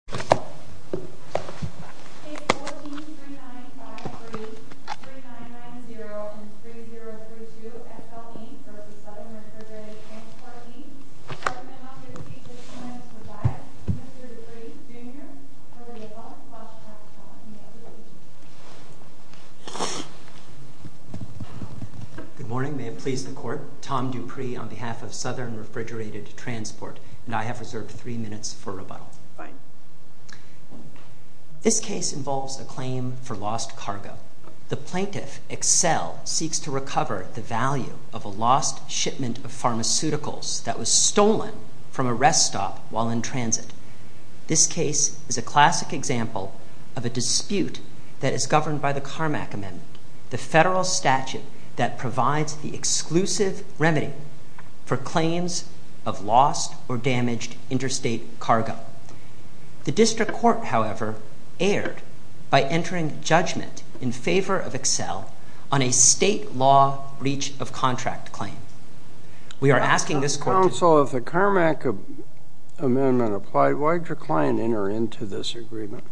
A 143953, 3990, and 3032 FLV v. Southern Refrigerated Transport Inc. Argument number 369 is provided. Mr. Dupree, Jr., for rebuttal. Good morning. May it please the Court. Tom Dupree on behalf of Southern Refrigerated Transport, and I have reserved three minutes for rebuttal. Fine. This case involves a claim for lost cargo. The plaintiff, Exel, seeks to recover the value of a lost shipment of pharmaceuticals that was stolen from a rest stop while in transit. This case is a classic example of a dispute that is governed by the Carmack Amendment, the federal statute that provides the exclusive remedy for claims of lost or damaged interstate cargo. The District Court, however, erred by entering judgment in favor of Exel on a state law breach of contract claim. Counsel, if the Carmack Amendment applied, why did your client enter into this agreement?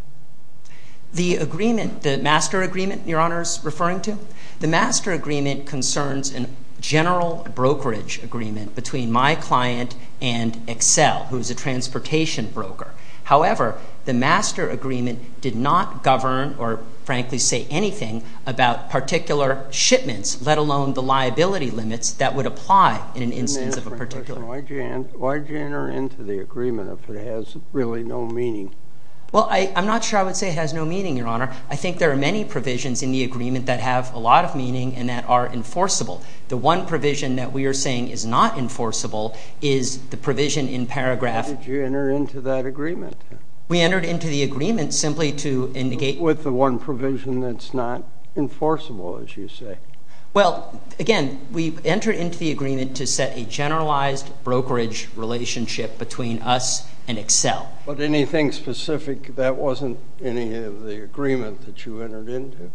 The agreement, the master agreement, Your Honor is referring to? The master agreement concerns a general brokerage agreement between my client and Exel, who is a transportation broker. However, the master agreement did not govern or, frankly, say anything about particular shipments, let alone the liability limits that would apply in an instance of a particular shipment. Why did you enter into the agreement if it has really no meaning? Well, I'm not sure I would say it has no meaning, Your Honor. I think there are many provisions in the agreement that have a lot of meaning and that are enforceable. The one provision that we are saying is not enforceable is the provision in paragraph... Why did you enter into that agreement? We entered into the agreement simply to indicate... With the one provision that's not enforceable, as you say. Well, again, we entered into the agreement to set a generalized brokerage relationship between us and Exel. But anything specific, that wasn't any of the agreement that you entered into?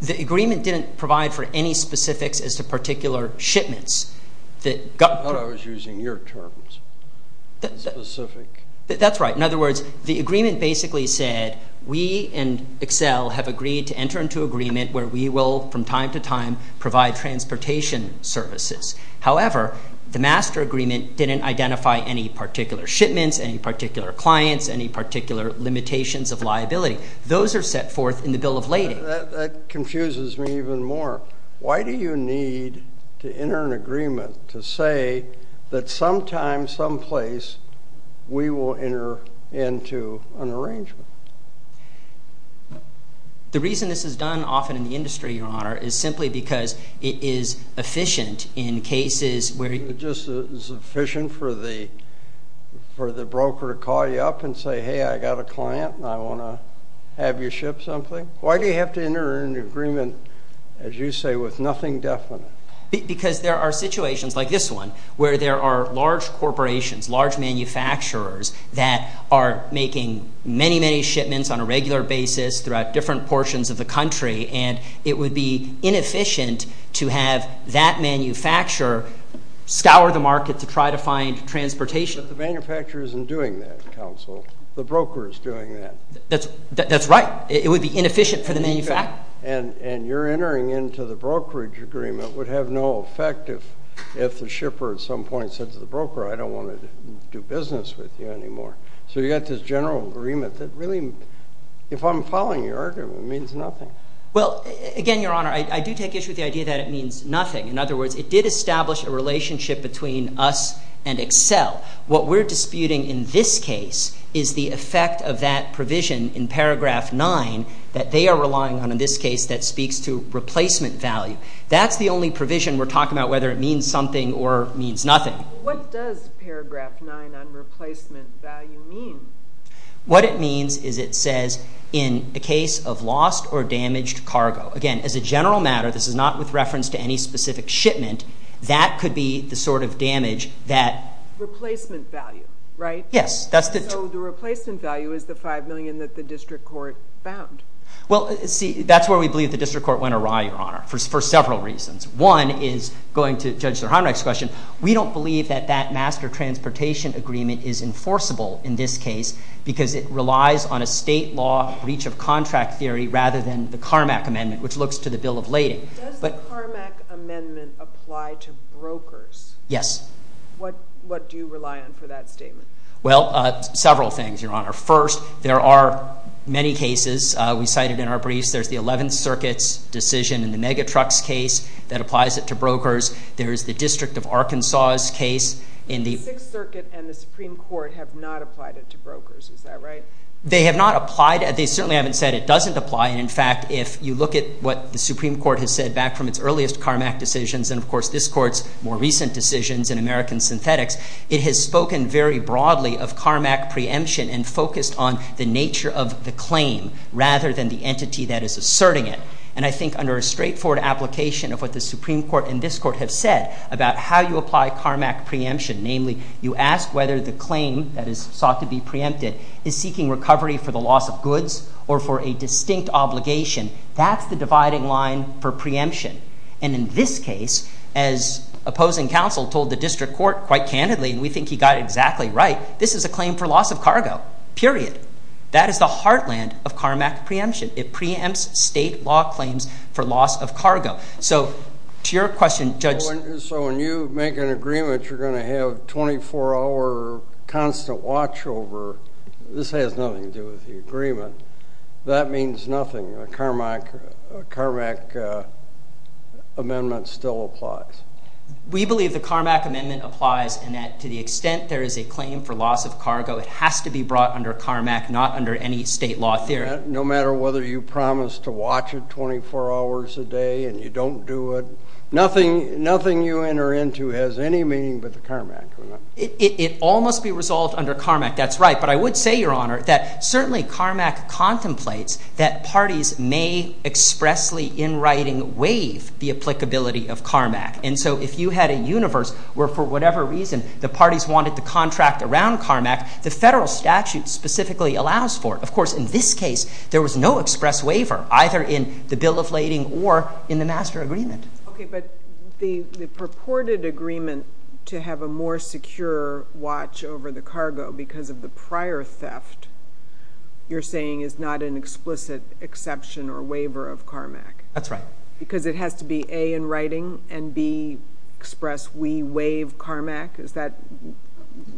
The agreement didn't provide for any specifics as to particular shipments. I thought I was using your terms, specific. That's right. In other words, the agreement basically said we and Exel have agreed to enter into agreement where we will, from time to time, provide transportation services. However, the master agreement didn't identify any particular shipments, any particular clients, any particular limitations of liability. Those are set forth in the Bill of Lading. That confuses me even more. Why do you need to enter an agreement to say that sometime, someplace, we will enter into an arrangement? The reason this is done often in the industry, Your Honor, is simply because it is efficient in cases where... Just as efficient for the broker to call you up and say, hey, I've got a client and I want to have you ship something? Why do you have to enter into an agreement, as you say, with nothing definite? Because there are situations like this one where there are large corporations, large manufacturers that are making many, many shipments on a regular basis throughout different portions of the country. And it would be inefficient to have that manufacturer scour the market to try to find transportation. But the manufacturer isn't doing that, counsel. The broker is doing that. That's right. It would be inefficient for the manufacturer. And your entering into the brokerage agreement would have no effect if the shipper at some point said to the broker, I don't want to do business with you anymore. So you've got this general agreement that really, if I'm following your argument, means nothing. Well, again, Your Honor, I do take issue with the idea that it means nothing. In other words, it did establish a relationship between us and Excel. What we're disputing in this case is the effect of that provision in paragraph 9 that they are relying on in this case that speaks to replacement value. That's the only provision we're talking about, whether it means something or means nothing. What does paragraph 9 on replacement value mean? What it means is it says in a case of lost or damaged cargo. Again, as a general matter, this is not with reference to any specific shipment. That could be the sort of damage that – Replacement value, right? Yes. So the replacement value is the $5 million that the district court found. Well, see, that's where we believe the district court went awry, Your Honor, for several reasons. One is going to Judge Zerhanak's question. We don't believe that that master transportation agreement is enforceable in this case because it relies on a state law breach of contract theory rather than the Carmack Amendment, which looks to the bill of lading. Does the Carmack Amendment apply to brokers? Yes. What do you rely on for that statement? Well, several things, Your Honor. First, there are many cases we cited in our briefs. There's the Eleventh Circuit's decision in the Megatrucks case that applies it to brokers. There is the District of Arkansas's case in the – The Sixth Circuit and the Supreme Court have not applied it to brokers. Is that right? They have not applied it. They certainly haven't said it doesn't apply. And, in fact, if you look at what the Supreme Court has said back from its earliest Carmack decisions and, of course, this Court's more recent decisions in American Synthetics, it has spoken very broadly of Carmack preemption and focused on the nature of the claim rather than the entity that is asserting it. And I think under a straightforward application of what the Supreme Court and this Court have said about how you apply Carmack preemption, namely you ask whether the claim that is sought to be preempted is seeking recovery for the loss of goods or for a distinct obligation. That's the dividing line for preemption. And in this case, as opposing counsel told the district court quite candidly, and we think he got it exactly right, this is a claim for loss of cargo, period. That is the heartland of Carmack preemption. It preempts state law claims for loss of cargo. So to your question, Judge – So when you make an agreement, you're going to have 24-hour constant watch over. This has nothing to do with the agreement. That means nothing. A Carmack amendment still applies. We believe the Carmack amendment applies in that to the extent there is a claim for loss of cargo, it has to be brought under Carmack, not under any state law theory. No matter whether you promise to watch it 24 hours a day and you don't do it. Nothing you enter into has any meaning but the Carmack amendment. It all must be resolved under Carmack. That's right. But I would say, Your Honor, that certainly Carmack contemplates that parties may expressly, in writing, waive the applicability of Carmack. And so if you had a universe where, for whatever reason, the parties wanted to contract around Carmack, the federal statute specifically allows for it. Of course, in this case, there was no express waiver, either in the bill of lading or in the master agreement. Okay. But the purported agreement to have a more secure watch over the cargo because of the prior theft, you're saying is not an explicit exception or waiver of Carmack. That's right. Because it has to be, A, in writing, and, B, express we waive Carmack? Is that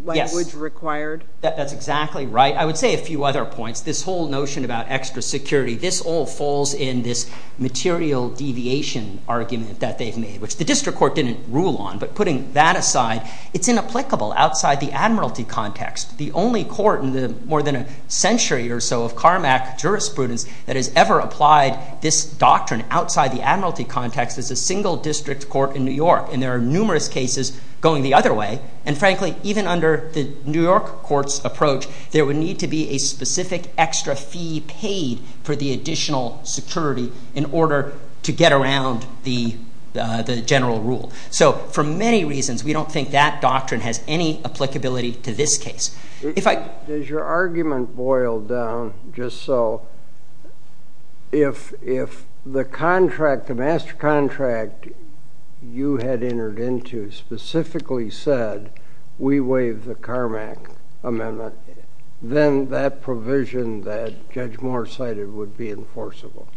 language required? Yes. That's exactly right. I would say a few other points. This whole notion about extra security, this all falls in this material deviation argument that they've made, which the district court didn't rule on. But putting that aside, it's inapplicable outside the admiralty context. The only court in more than a century or so of Carmack jurisprudence that has ever applied this doctrine outside the admiralty context is a single district court in New York. And there are numerous cases going the other way. And, frankly, even under the New York court's approach, there would need to be a specific extra fee paid for the additional security in order to get around the general rule. So for many reasons, we don't think that doctrine has any applicability to this case. Does your argument boil down just so, if the master contract you had entered into specifically said, we waive the Carmack amendment, then that provision that Judge Moore cited would be enforceable?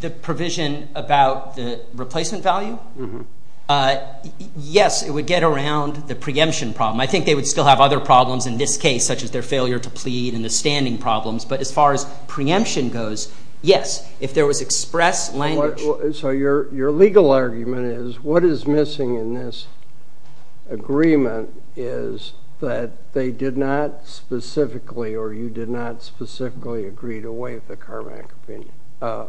The provision about the replacement value? Yes, it would get around the preemption problem. I think they would still have other problems in this case, such as their failure to plead and the standing problems. But as far as preemption goes, yes, if there was express language. So your legal argument is what is missing in this agreement is that they did not specifically or you did not specifically agree to waive the Carmack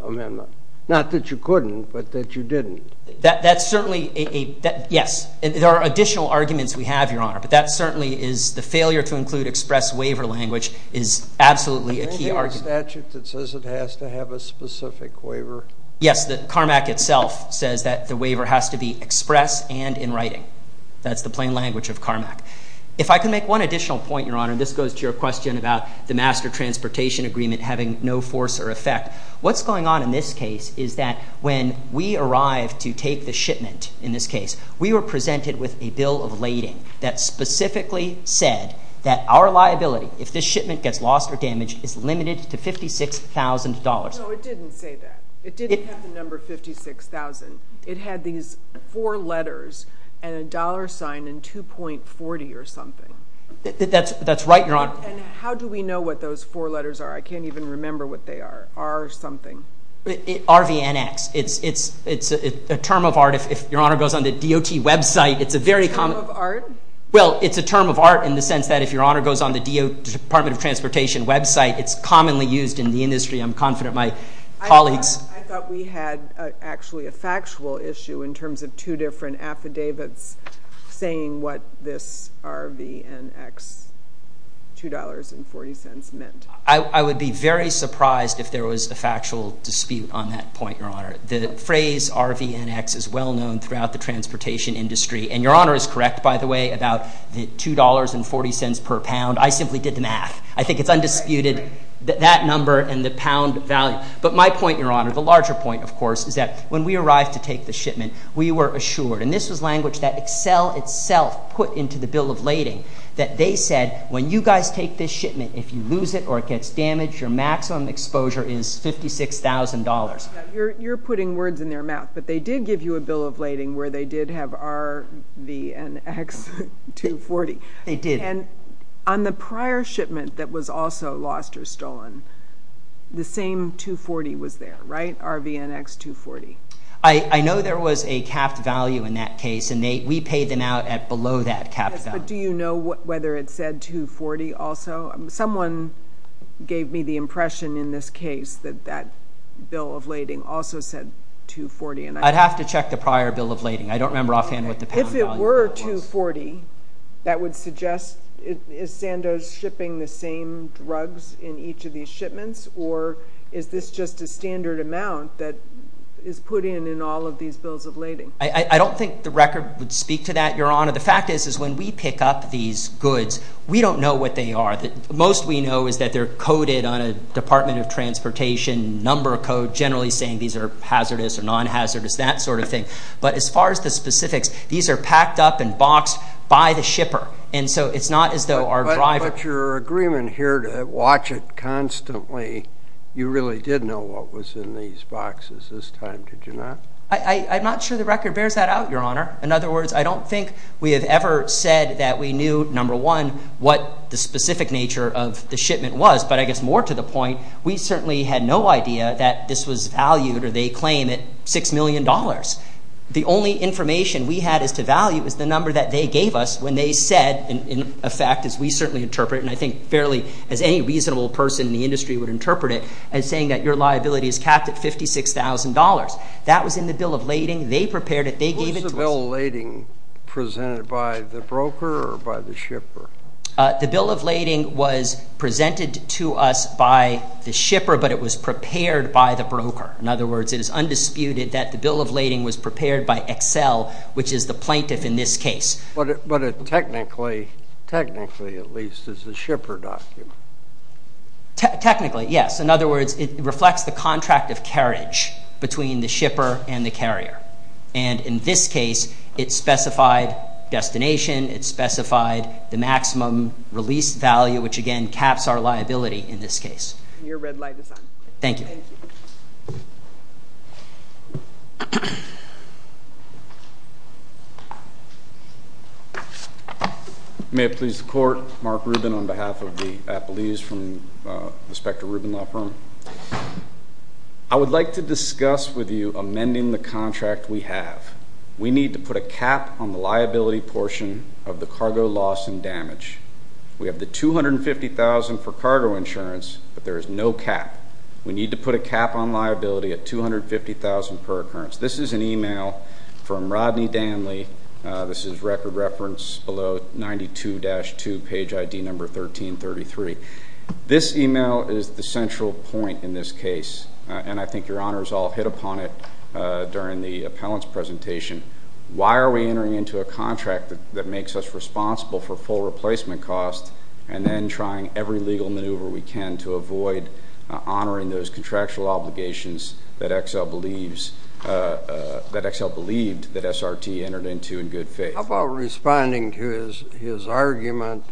amendment. Not that you couldn't, but that you didn't. That's certainly a, yes, there are additional arguments we have, Your Honor, but that certainly is the failure to include express waiver language is absolutely a key argument. Anything in statute that says it has to have a specific waiver? Yes, the Carmack itself says that the waiver has to be express and in writing. That's the plain language of Carmack. If I could make one additional point, Your Honor, and this goes to your question about the master transportation agreement having no force or effect. What's going on in this case is that when we arrived to take the shipment, in this case, we were presented with a bill of lading that specifically said that our liability, if this shipment gets lost or damaged, is limited to $56,000. No, it didn't say that. It didn't have the number 56,000. It had these four letters and a dollar sign and 2.40 or something. That's right, Your Honor. And how do we know what those four letters are? I can't even remember what they are. R something. RVNX. It's a term of art. If Your Honor goes on the DOT website, it's a very common. A term of art? Well, it's a term of art in the sense that if Your Honor goes on the DOT Department of Transportation website, it's commonly used in the industry. I'm confident my colleagues. I thought we had actually a factual issue in terms of two different affidavits saying what this RVNX $2.40 meant. I would be very surprised if there was a factual dispute on that point, Your Honor. The phrase RVNX is well known throughout the transportation industry, and Your Honor is correct, by the way, about the $2.40 per pound. I simply did the math. I think it's undisputed, that number and the pound value. But my point, Your Honor, the larger point, of course, is that when we arrived to take the shipment, we were assured, and this was language that Excel itself put into the bill of lading, that they said when you guys take this shipment, if you lose it or it gets damaged, your maximum exposure is $56,000. You're putting words in their mouth. But they did give you a bill of lading where they did have RVNX $2.40. They did. And on the prior shipment that was also lost or stolen, the same $2.40 was there, right? RVNX $2.40. I know there was a capped value in that case, and we paid them out at below that capped value. Yes, but do you know whether it said $2.40 also? Someone gave me the impression in this case that that bill of lading also said $2.40. I'd have to check the prior bill of lading. I don't remember offhand what the pound value was. If it were $2.40, that would suggest is Sandoz shipping the same drugs in each of these shipments, or is this just a standard amount that is put in in all of these bills of lading? I don't think the record would speak to that, Your Honor. The fact is is when we pick up these goods, we don't know what they are. Most we know is that they're coded on a Department of Transportation number code, generally saying these are hazardous or non-hazardous, that sort of thing. But as far as the specifics, these are packed up and boxed by the shipper, and so it's not as though our driver But your agreement here to watch it constantly, you really did know what was in these boxes this time, did you not? I'm not sure the record bears that out, Your Honor. In other words, I don't think we have ever said that we knew, number one, what the specific nature of the shipment was. But I guess more to the point, we certainly had no idea that this was valued, or they claim it, $6 million. The only information we had as to value was the number that they gave us when they said, in effect as we certainly interpret, and I think fairly as any reasonable person in the industry would interpret it, as saying that your liability is capped at $56,000. That was in the bill of lading. They prepared it. Was the bill of lading presented by the broker or by the shipper? The bill of lading was presented to us by the shipper, but it was prepared by the broker. In other words, it is undisputed that the bill of lading was prepared by Excel, which is the plaintiff in this case. But it technically, at least, is the shipper document. Technically, yes. In other words, it reflects the contract of carriage between the shipper and the carrier. And in this case, it specified destination. It specified the maximum release value, which, again, caps our liability in this case. Your red light is on. Thank you. May it please the Court, Mark Rubin on behalf of the appellees from the Specter Rubin Law Firm. I would like to discuss with you amending the contract we have. We need to put a cap on the liability portion of the cargo loss and damage. We have the $250,000 for cargo insurance, but there is no cap. We need to put a cap on liability at $250,000 per occurrence. This is an email from Rodney Danley. This is record reference below 92-2, page ID number 1333. This email is the central point in this case, and I think your Honor has all hit upon it during the appellant's presentation. Why are we entering into a contract that makes us responsible for full replacement costs and then trying every legal maneuver we can to avoid honoring those contractual obligations that Excel believed that SRT entered into in good faith? How about responding to his argument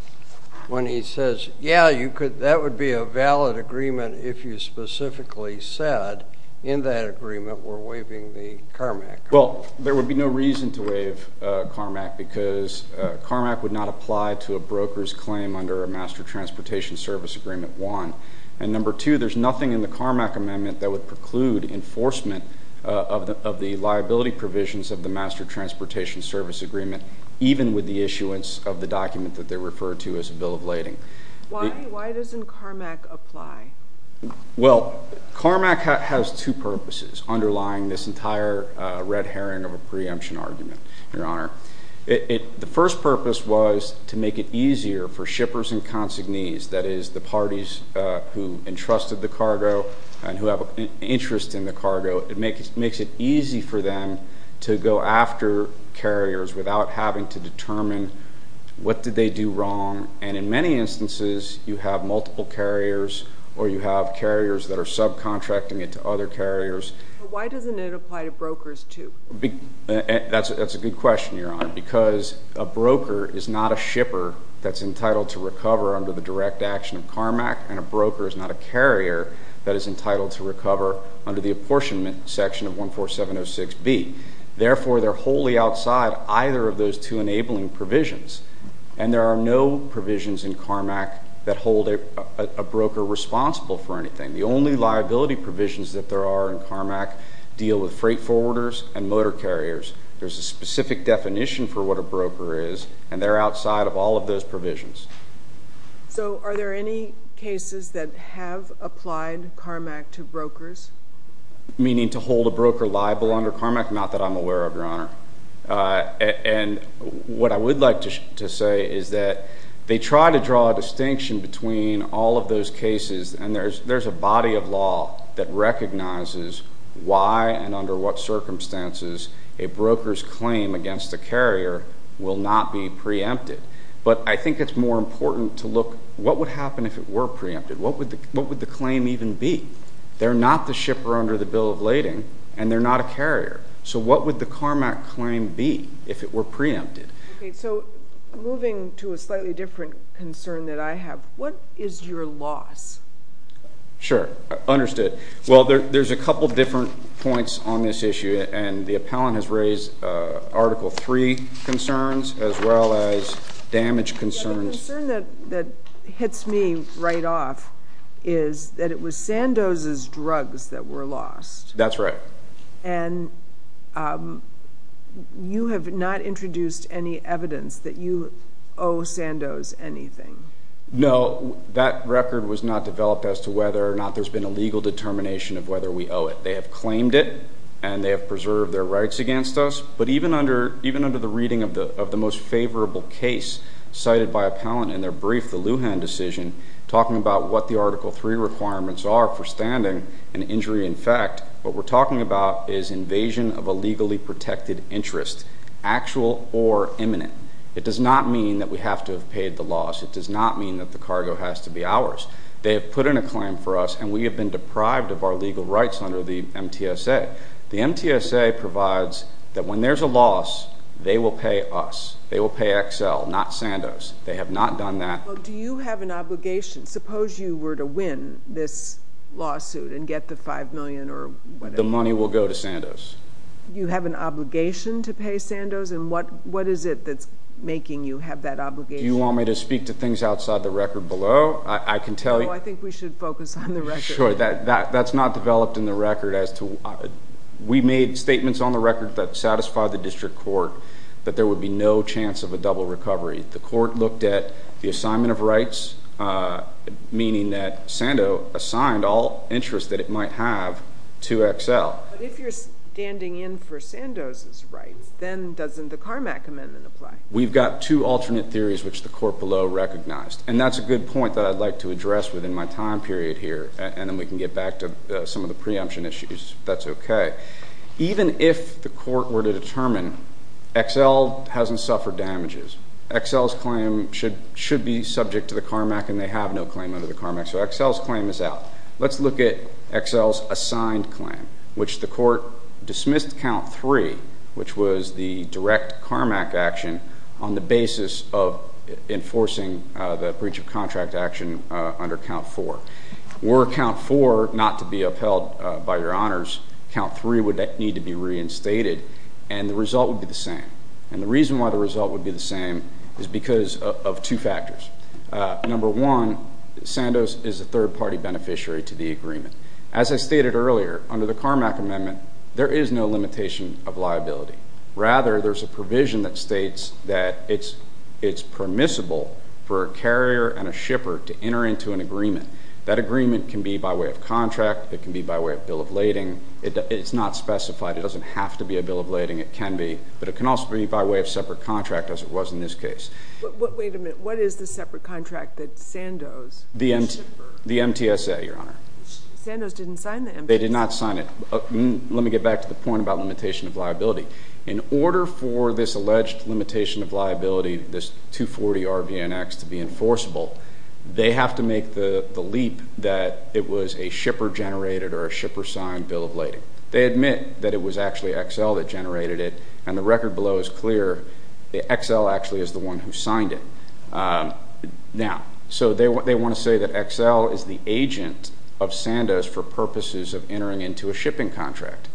when he says, yeah, that would be a valid agreement if you specifically said in that agreement we're waiving the CARMAC? Well, there would be no reason to waive CARMAC because CARMAC would not apply to a broker's claim under a Master Transportation Service Agreement I. And number two, there's nothing in the CARMAC amendment that would preclude enforcement of the liability provisions of the Master Transportation Service Agreement even with the issuance of the document that they refer to as a bill of lading. Why doesn't CARMAC apply? Well, CARMAC has two purposes underlying this entire red herring of a preemption argument, Your Honor. The first purpose was to make it easier for shippers and consignees, that is the parties who entrusted the cargo and who have an interest in the cargo, it makes it easy for them to go after carriers without having to determine what did they do wrong. And in many instances, you have multiple carriers or you have carriers that are subcontracting it to other carriers. Why doesn't it apply to brokers too? That's a good question, Your Honor, because a broker is not a shipper that's entitled to recover under the direct action of CARMAC and a broker is not a carrier that is entitled to recover under the apportionment section of 14706B. Therefore, they're wholly outside either of those two enabling provisions, and there are no provisions in CARMAC that hold a broker responsible for anything. The only liability provisions that there are in CARMAC deal with freight forwarders and motor carriers. There's a specific definition for what a broker is, and they're outside of all of those provisions. So are there any cases that have applied CARMAC to brokers? Meaning to hold a broker liable under CARMAC? Not that I'm aware of, Your Honor. And what I would like to say is that they try to draw a distinction between all of those cases, and there's a body of law that recognizes why and under what circumstances a broker's claim against a carrier will not be preempted. But I think it's more important to look at what would happen if it were preempted. What would the claim even be? They're not the shipper under the Bill of Lading, and they're not a carrier. So what would the CARMAC claim be if it were preempted? Okay, so moving to a slightly different concern that I have. What is your loss? Sure, understood. Well, there's a couple different points on this issue, and the appellant has raised Article III concerns as well as damage concerns. The concern that hits me right off is that it was Sandoz's drugs that were lost. That's right. And you have not introduced any evidence that you owe Sandoz anything. No, that record was not developed as to whether or not there's been a legal determination of whether we owe it. They have claimed it, and they have preserved their rights against us. But even under the reading of the most favorable case cited by appellant in their brief, the Lujan decision, talking about what the Article III requirements are for standing and injury in fact, what we're talking about is invasion of a legally protected interest, actual or imminent. It does not mean that we have to have paid the loss. It does not mean that the cargo has to be ours. They have put in a claim for us, and we have been deprived of our legal rights under the MTSA. The MTSA provides that when there's a loss, they will pay us. They will pay Excel, not Sandoz. They have not done that. Do you have an obligation? Suppose you were to win this lawsuit and get the $5 million or whatever. The money will go to Sandoz. You have an obligation to pay Sandoz, and what is it that's making you have that obligation? Do you want me to speak to things outside the record below? I can tell you. No, I think we should focus on the record. Sure. That's not developed in the record as to why. We made statements on the record that satisfy the district court that there would be no chance of a double recovery. The court looked at the assignment of rights, meaning that Sandoz assigned all interest that it might have to Excel. But if you're standing in for Sandoz's rights, then doesn't the Carmack Amendment apply? We've got two alternate theories, which the court below recognized, and that's a good point that I'd like to address within my time period here, and then we can get back to some of the preemption issues if that's okay. Even if the court were to determine Excel hasn't suffered damages, Excel's claim should be subject to the Carmack and they have no claim under the Carmack, so Excel's claim is out. Let's look at Excel's assigned claim, which the court dismissed Count 3, which was the direct Carmack action on the basis of enforcing the breach of contract action under Count 4. Were Count 4 not to be upheld by your honors, Count 3 would need to be reinstated, and the result would be the same. And the reason why the result would be the same is because of two factors. Number one, Sandoz is a third-party beneficiary to the agreement. As I stated earlier, under the Carmack Amendment, there is no limitation of liability. Rather, there's a provision that states that it's permissible for a carrier and a shipper to enter into an agreement. That agreement can be by way of contract. It can be by way of bill of lading. It's not specified. It doesn't have to be a bill of lading. It can be, but it can also be by way of separate contract, as it was in this case. But wait a minute. What is the separate contract that Sandoz? The MTSA, Your Honor. Sandoz didn't sign the MTSA. They did not sign it. Let me get back to the point about limitation of liability. In order for this alleged limitation of liability, this 240RBNX, to be enforceable, they have to make the leap that it was a shipper-generated or a shipper-signed bill of lading. They admit that it was actually Excel that generated it, and the record below is clear. Excel actually is the one who signed it. Now, so they want to say that Excel is the agent of Sandoz for purposes of entering into a shipping contract.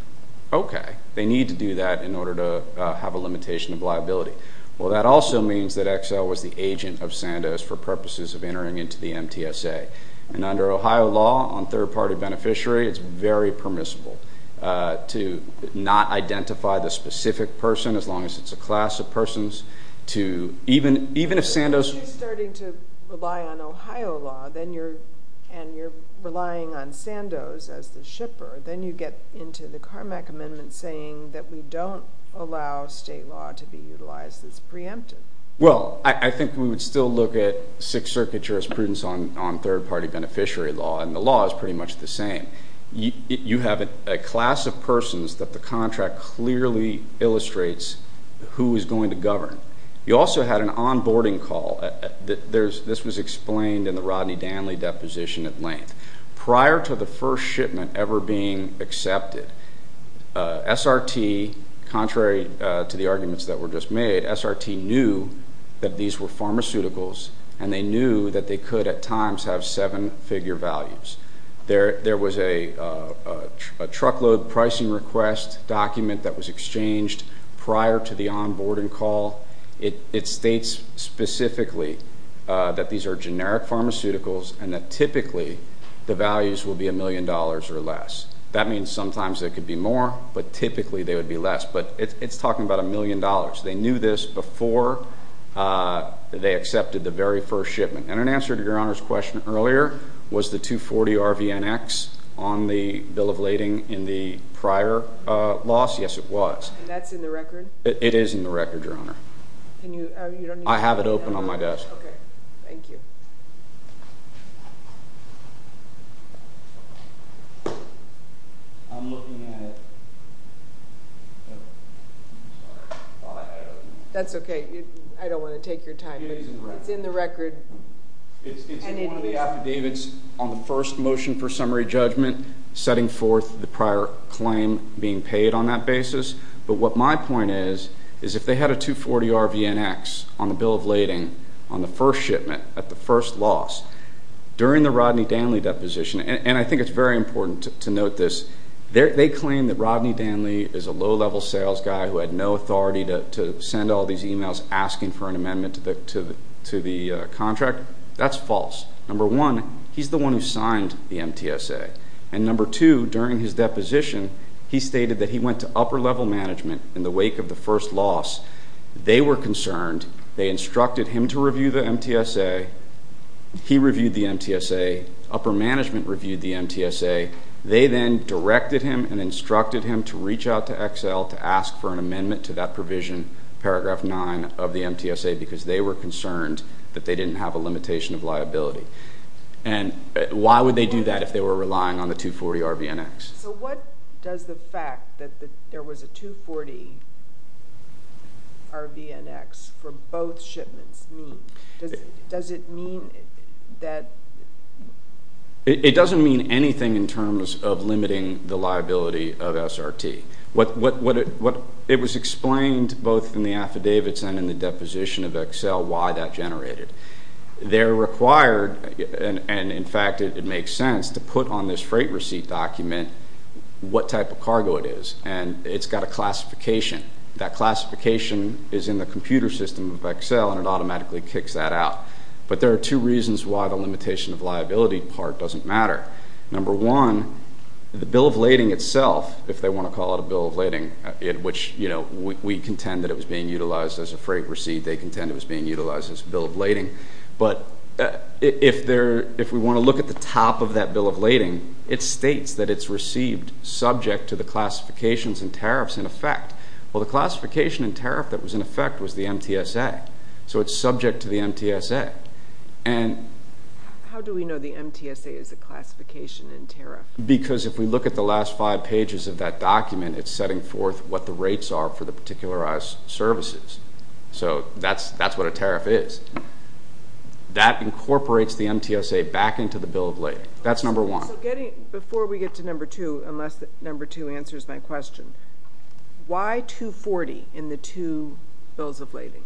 Okay. They need to do that in order to have a limitation of liability. Well, that also means that Excel was the agent of Sandoz for purposes of entering into the MTSA. And under Ohio law, on third-party beneficiary, it's very permissible to not identify the specific person, as long as it's a class of persons, Even if Sandoz If you're starting to rely on Ohio law and you're relying on Sandoz as the shipper, then you get into the Carmack Amendment saying that we don't allow state law to be utilized as preemptive. Well, I think we would still look at Sixth Circuit jurisprudence on third-party beneficiary law, and the law is pretty much the same. You have a class of persons that the contract clearly illustrates who is going to govern. You also had an onboarding call. This was explained in the Rodney Danley deposition at length. Prior to the first shipment ever being accepted, SRT, contrary to the arguments that were just made, SRT knew that these were pharmaceuticals, and they knew that they could at times have seven-figure values. There was a truckload pricing request document that was exchanged prior to the onboarding call. It states specifically that these are generic pharmaceuticals, and that typically the values will be a million dollars or less. That means sometimes they could be more, but typically they would be less. But it's talking about a million dollars. They knew this before they accepted the very first shipment. And in answer to Your Honor's question earlier, was the 240 RVNX on the bill of lading in the prior loss? Yes, it was. And that's in the record? It is in the record, Your Honor. I have it open on my desk. Okay. Thank you. That's okay. I don't want to take your time. It's in the record. It's in one of the affidavits on the first motion for summary judgment, setting forth the prior claim being paid on that basis. But what my point is, is if they had a 240 RVNX on the bill of lading on the first shipment at the first loss, during the Rodney Danley deposition, and I think it's very important to note this, they claim that Rodney Danley is a low-level sales guy who had no authority to send all these emails asking for an amendment to the contract. That's false. Number one, he's the one who signed the MTSA. And number two, during his deposition, he stated that he went to upper-level management in the wake of the first loss. They were concerned. They instructed him to review the MTSA. He reviewed the MTSA. Upper management reviewed the MTSA. They then directed him and instructed him to reach out to Excel to ask for an amendment to that provision, paragraph 9 of the MTSA, because they were concerned that they didn't have a limitation of liability. And why would they do that if they were relying on the 240 RVNX? So what does the fact that there was a 240 RVNX for both shipments mean? Does it mean that? It doesn't mean anything in terms of limiting the liability of SRT. It was explained both in the affidavits and in the deposition of Excel why that generated. They're required, and in fact it makes sense, to put on this freight receipt document what type of cargo it is. And it's got a classification. That classification is in the computer system of Excel, and it automatically kicks that out. But there are two reasons why the limitation of liability part doesn't matter. Number one, the bill of lading itself, if they want to call it a bill of lading, which we contend that it was being utilized as a freight receipt. They contend it was being utilized as a bill of lading. But if we want to look at the top of that bill of lading, it states that it's received subject to the classifications and tariffs in effect. Well, the classification and tariff that was in effect was the MTSA, so it's subject to the MTSA. How do we know the MTSA is a classification and tariff? Because if we look at the last five pages of that document, it's setting forth what the rates are for the particularized services. So that's what a tariff is. That incorporates the MTSA back into the bill of lading. That's number one. Before we get to number two, unless number two answers my question, why 240 in the two bills of lading?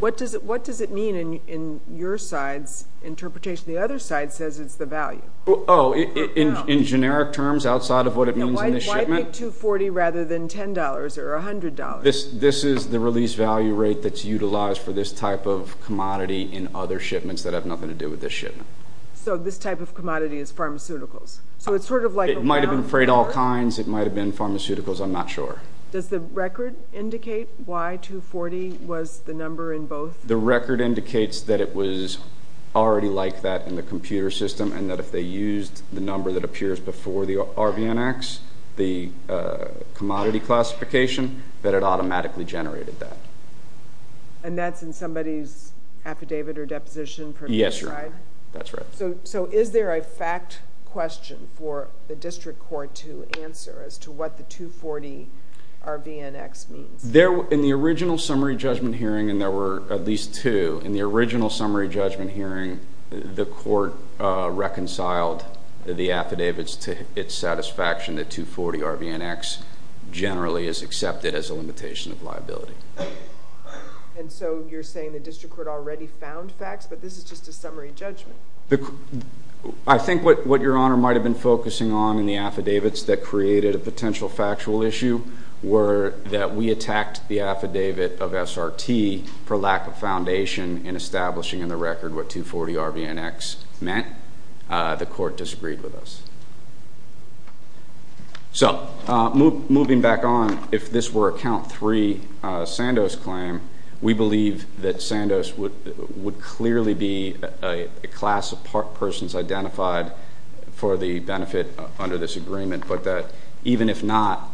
What does it mean in your side's interpretation? The other side says it's the value. Oh, in generic terms, outside of what it means in this shipment? Why 240 rather than $10 or $100? This is the release value rate that's utilized for this type of commodity in other shipments that have nothing to do with this shipment. So this type of commodity is pharmaceuticals. It might have been freight all kinds. It might have been pharmaceuticals. I'm not sure. Does the record indicate why 240 was the number in both? The record indicates that it was already like that in the computer system, and that if they used the number that appears before the RBNX, the commodity classification, that it automatically generated that. And that's in somebody's affidavit or deposition? Yes, Your Honor. That's right. So is there a fact question for the district court to answer as to what the 240 RBNX means? In the original summary judgment hearing, and there were at least two, in the original summary judgment hearing, the court reconciled the affidavits to its satisfaction that 240 RBNX generally is accepted as a limitation of liability. And so you're saying the district court already found facts, but this is just a summary judgment? I think what Your Honor might have been focusing on in the affidavits that created a potential factual issue were that we attacked the affidavit of SRT for lack of foundation in establishing in the record what 240 RBNX meant. The court disagreed with us. So moving back on, if this were a count three Sandoz claim, we believe that Sandoz would clearly be a class of persons identified for the benefit under this agreement, but that even if not,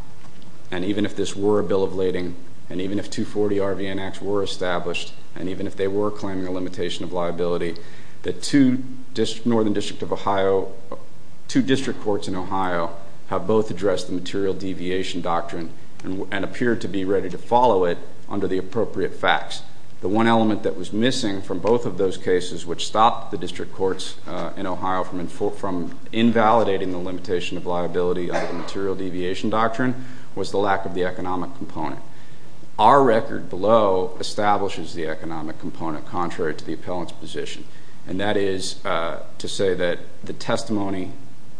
and even if this were a bill of lading, and even if 240 RBNX were established, and even if they were claiming a limitation of liability, that two Northern District of Ohio, two district courts in Ohio have both addressed the material deviation doctrine and appeared to be ready to follow it under the appropriate facts. The one element that was missing from both of those cases which stopped the district courts in Ohio from invalidating the limitation of liability under the material deviation doctrine was the lack of the economic component. Our record below establishes the economic component contrary to the appellant's position, and that is to say that the testimony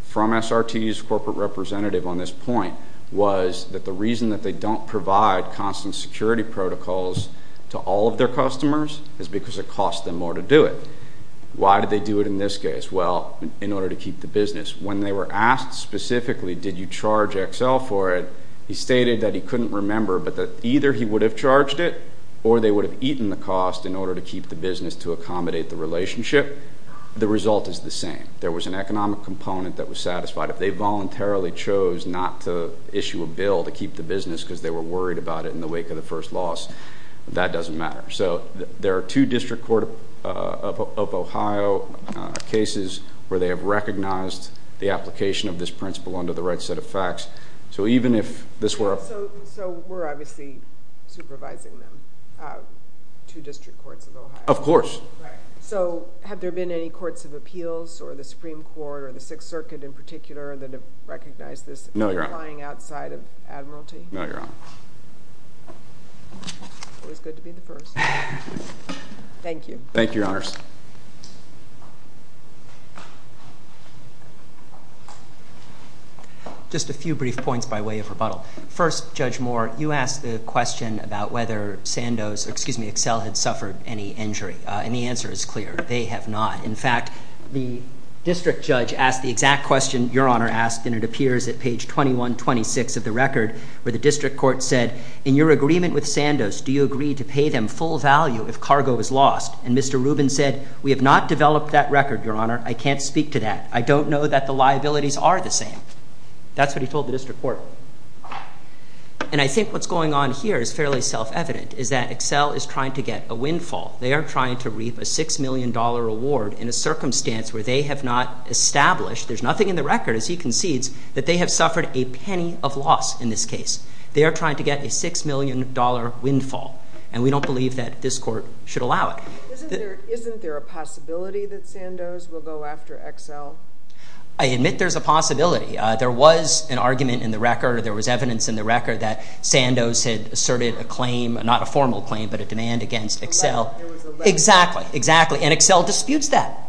from SRT's corporate representative on this point was that the reason that they don't provide constant security protocols to all of their customers is because it costs them more to do it. Why did they do it in this case? Well, in order to keep the business. When they were asked specifically did you charge XL for it, he stated that he couldn't remember, but that either he would have charged it or they would have eaten the cost in order to keep the business to accommodate the relationship. The result is the same. There was an economic component that was satisfied. If they voluntarily chose not to issue a bill to keep the business because they were worried about it in the wake of the first loss, that doesn't matter. So there are two district court of Ohio cases where they have recognized the application of this principle under the right set of facts. So even if this were a... So we're obviously supervising them, two district courts of Ohio. Of course. So have there been any courts of appeals or the Supreme Court or the Sixth Circuit in particular that have recognized this applying outside of admiralty? No, Your Honor. It was good to be the first. Thank you. Thank you, Your Honors. Just a few brief points by way of rebuttal. First, Judge Moore, you asked the question about whether Sandos, excuse me, Excel had suffered any injury, and the answer is clear. They have not. In fact, the district judge asked the exact question Your Honor asked, and it appears at page 2126 of the record where the district court said, in your agreement with Sandos, do you agree to pay them full value if cargo is lost? And Mr. Rubin said, we have not developed that record, Your Honor. I can't speak to that. I don't know that the liabilities are the same. That's what he told the district court. And I think what's going on here is fairly self-evident is that Excel is trying to get a windfall. They are trying to reap a $6 million award in a circumstance where they have not established, there's nothing in the record, as he concedes, that they have suffered a penny of loss in this case. They are trying to get a $6 million windfall, and we don't believe that this court should allow it. Isn't there a possibility that Sandos will go after Excel? I admit there's a possibility. There was an argument in the record, or there was evidence in the record, that Sandos had asserted a claim, not a formal claim, but a demand against Excel. Exactly, exactly. And Excel disputes that.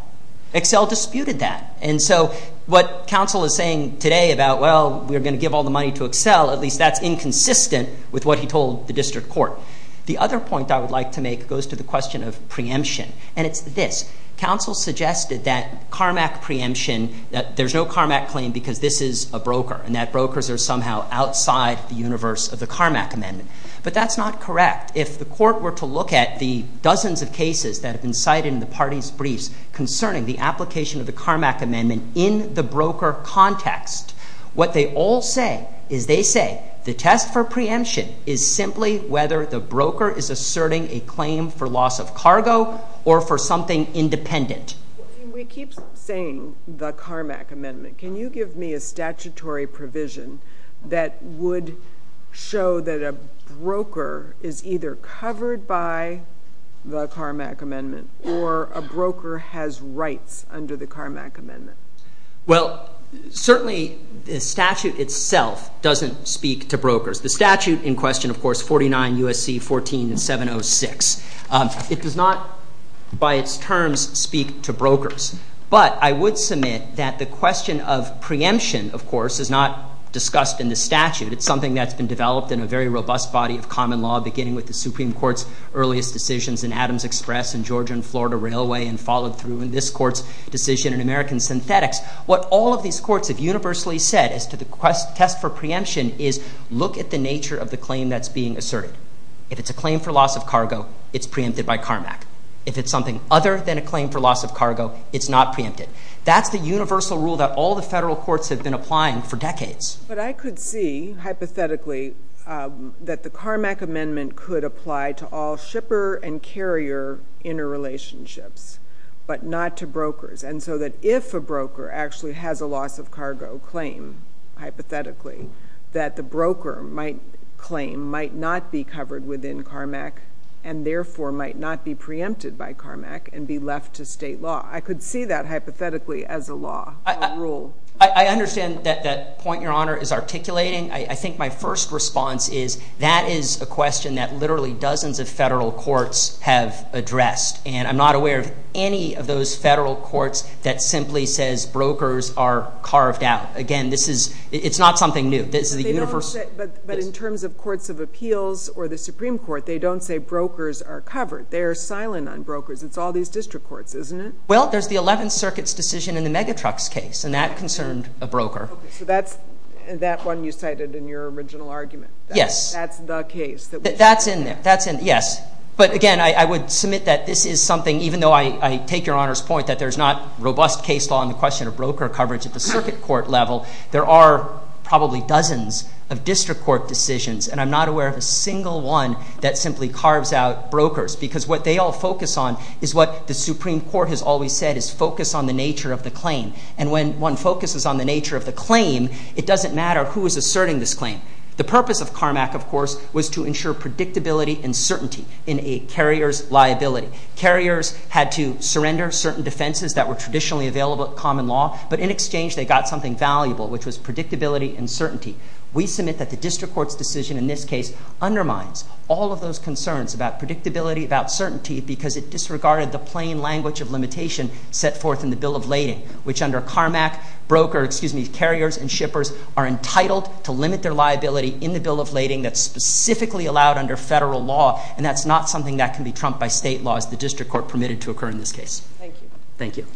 Excel disputed that. And so what counsel is saying today about, well, we're going to give all the money to Excel, at least that's inconsistent with what he told the district court. The other point I would like to make goes to the question of preemption, and it's this. Counsel suggested that CARMAC preemption, that there's no CARMAC claim because this is a broker and that brokers are somehow outside the universe of the CARMAC amendment. But that's not correct. If the court were to look at the dozens of cases that have been cited in the party's briefs concerning the application of the CARMAC amendment in the broker context, what they all say is they say the test for preemption is simply whether the broker is asserting a claim for loss of cargo or for something independent. We keep saying the CARMAC amendment. Can you give me a statutory provision that would show that a broker is either covered by the CARMAC amendment or a broker has rights under the CARMAC amendment? Well, certainly the statute itself doesn't speak to brokers. The statute in question, of course, 49 U.S.C. 14706. It does not, by its terms, speak to brokers. But I would submit that the question of preemption, of course, is not discussed in the statute. It's something that's been developed in a very robust body of common law, beginning with the Supreme Court's earliest decisions in Adams Express and Georgia and Florida Railway and followed through in this court's decision in American Synthetics. What all of these courts have universally said as to the test for preemption is look at the nature of the claim that's being asserted. If it's a claim for loss of cargo, it's preempted by CARMAC. If it's something other than a claim for loss of cargo, it's not preempted. That's the universal rule that all the federal courts have been applying for decades. But I could see, hypothetically, that the CARMAC amendment could apply to all shipper and carrier interrelationships but not to brokers. And so that if a broker actually has a loss of cargo claim, hypothetically, that the broker might claim might not be covered within CARMAC and therefore might not be preempted by CARMAC and be left to state law. I could see that, hypothetically, as a law, a rule. I understand that that point, Your Honor, is articulating. I think my first response is that is a question that literally dozens of federal courts have addressed. And I'm not aware of any of those federal courts that simply says brokers are carved out. Again, this is not something new. But in terms of courts of appeals or the Supreme Court, they don't say brokers are covered. They are silent on brokers. It's all these district courts, isn't it? Well, there's the Eleventh Circuit's decision in the Megatrucks case, and that concerned a broker. So that's that one you cited in your original argument? Yes. That's the case? That's in there. Yes. But, again, I would submit that this is something, even though I take Your Honor's point, that there's not robust case law in the question of broker coverage at the circuit court level. There are probably dozens of district court decisions, and I'm not aware of a single one that simply carves out brokers because what they all focus on is what the Supreme Court has always said is focus on the nature of the claim. And when one focuses on the nature of the claim, it doesn't matter who is asserting this claim. The purpose of CARMAC, of course, was to ensure predictability and certainty in a carrier's liability. Carriers had to surrender certain defenses that were traditionally available in common law, but in exchange they got something valuable, which was predictability and certainty. We submit that the district court's decision in this case undermines all of those concerns about predictability, about certainty, because it disregarded the plain language of limitation set forth in the Bill of Lading, which under CARMAC, carriers and shippers are entitled to limit their liability in the Bill of Lading that's specifically allowed under federal law, and that's not something that can be trumped by state laws the district court permitted to occur in this case. Thank you. Thank you.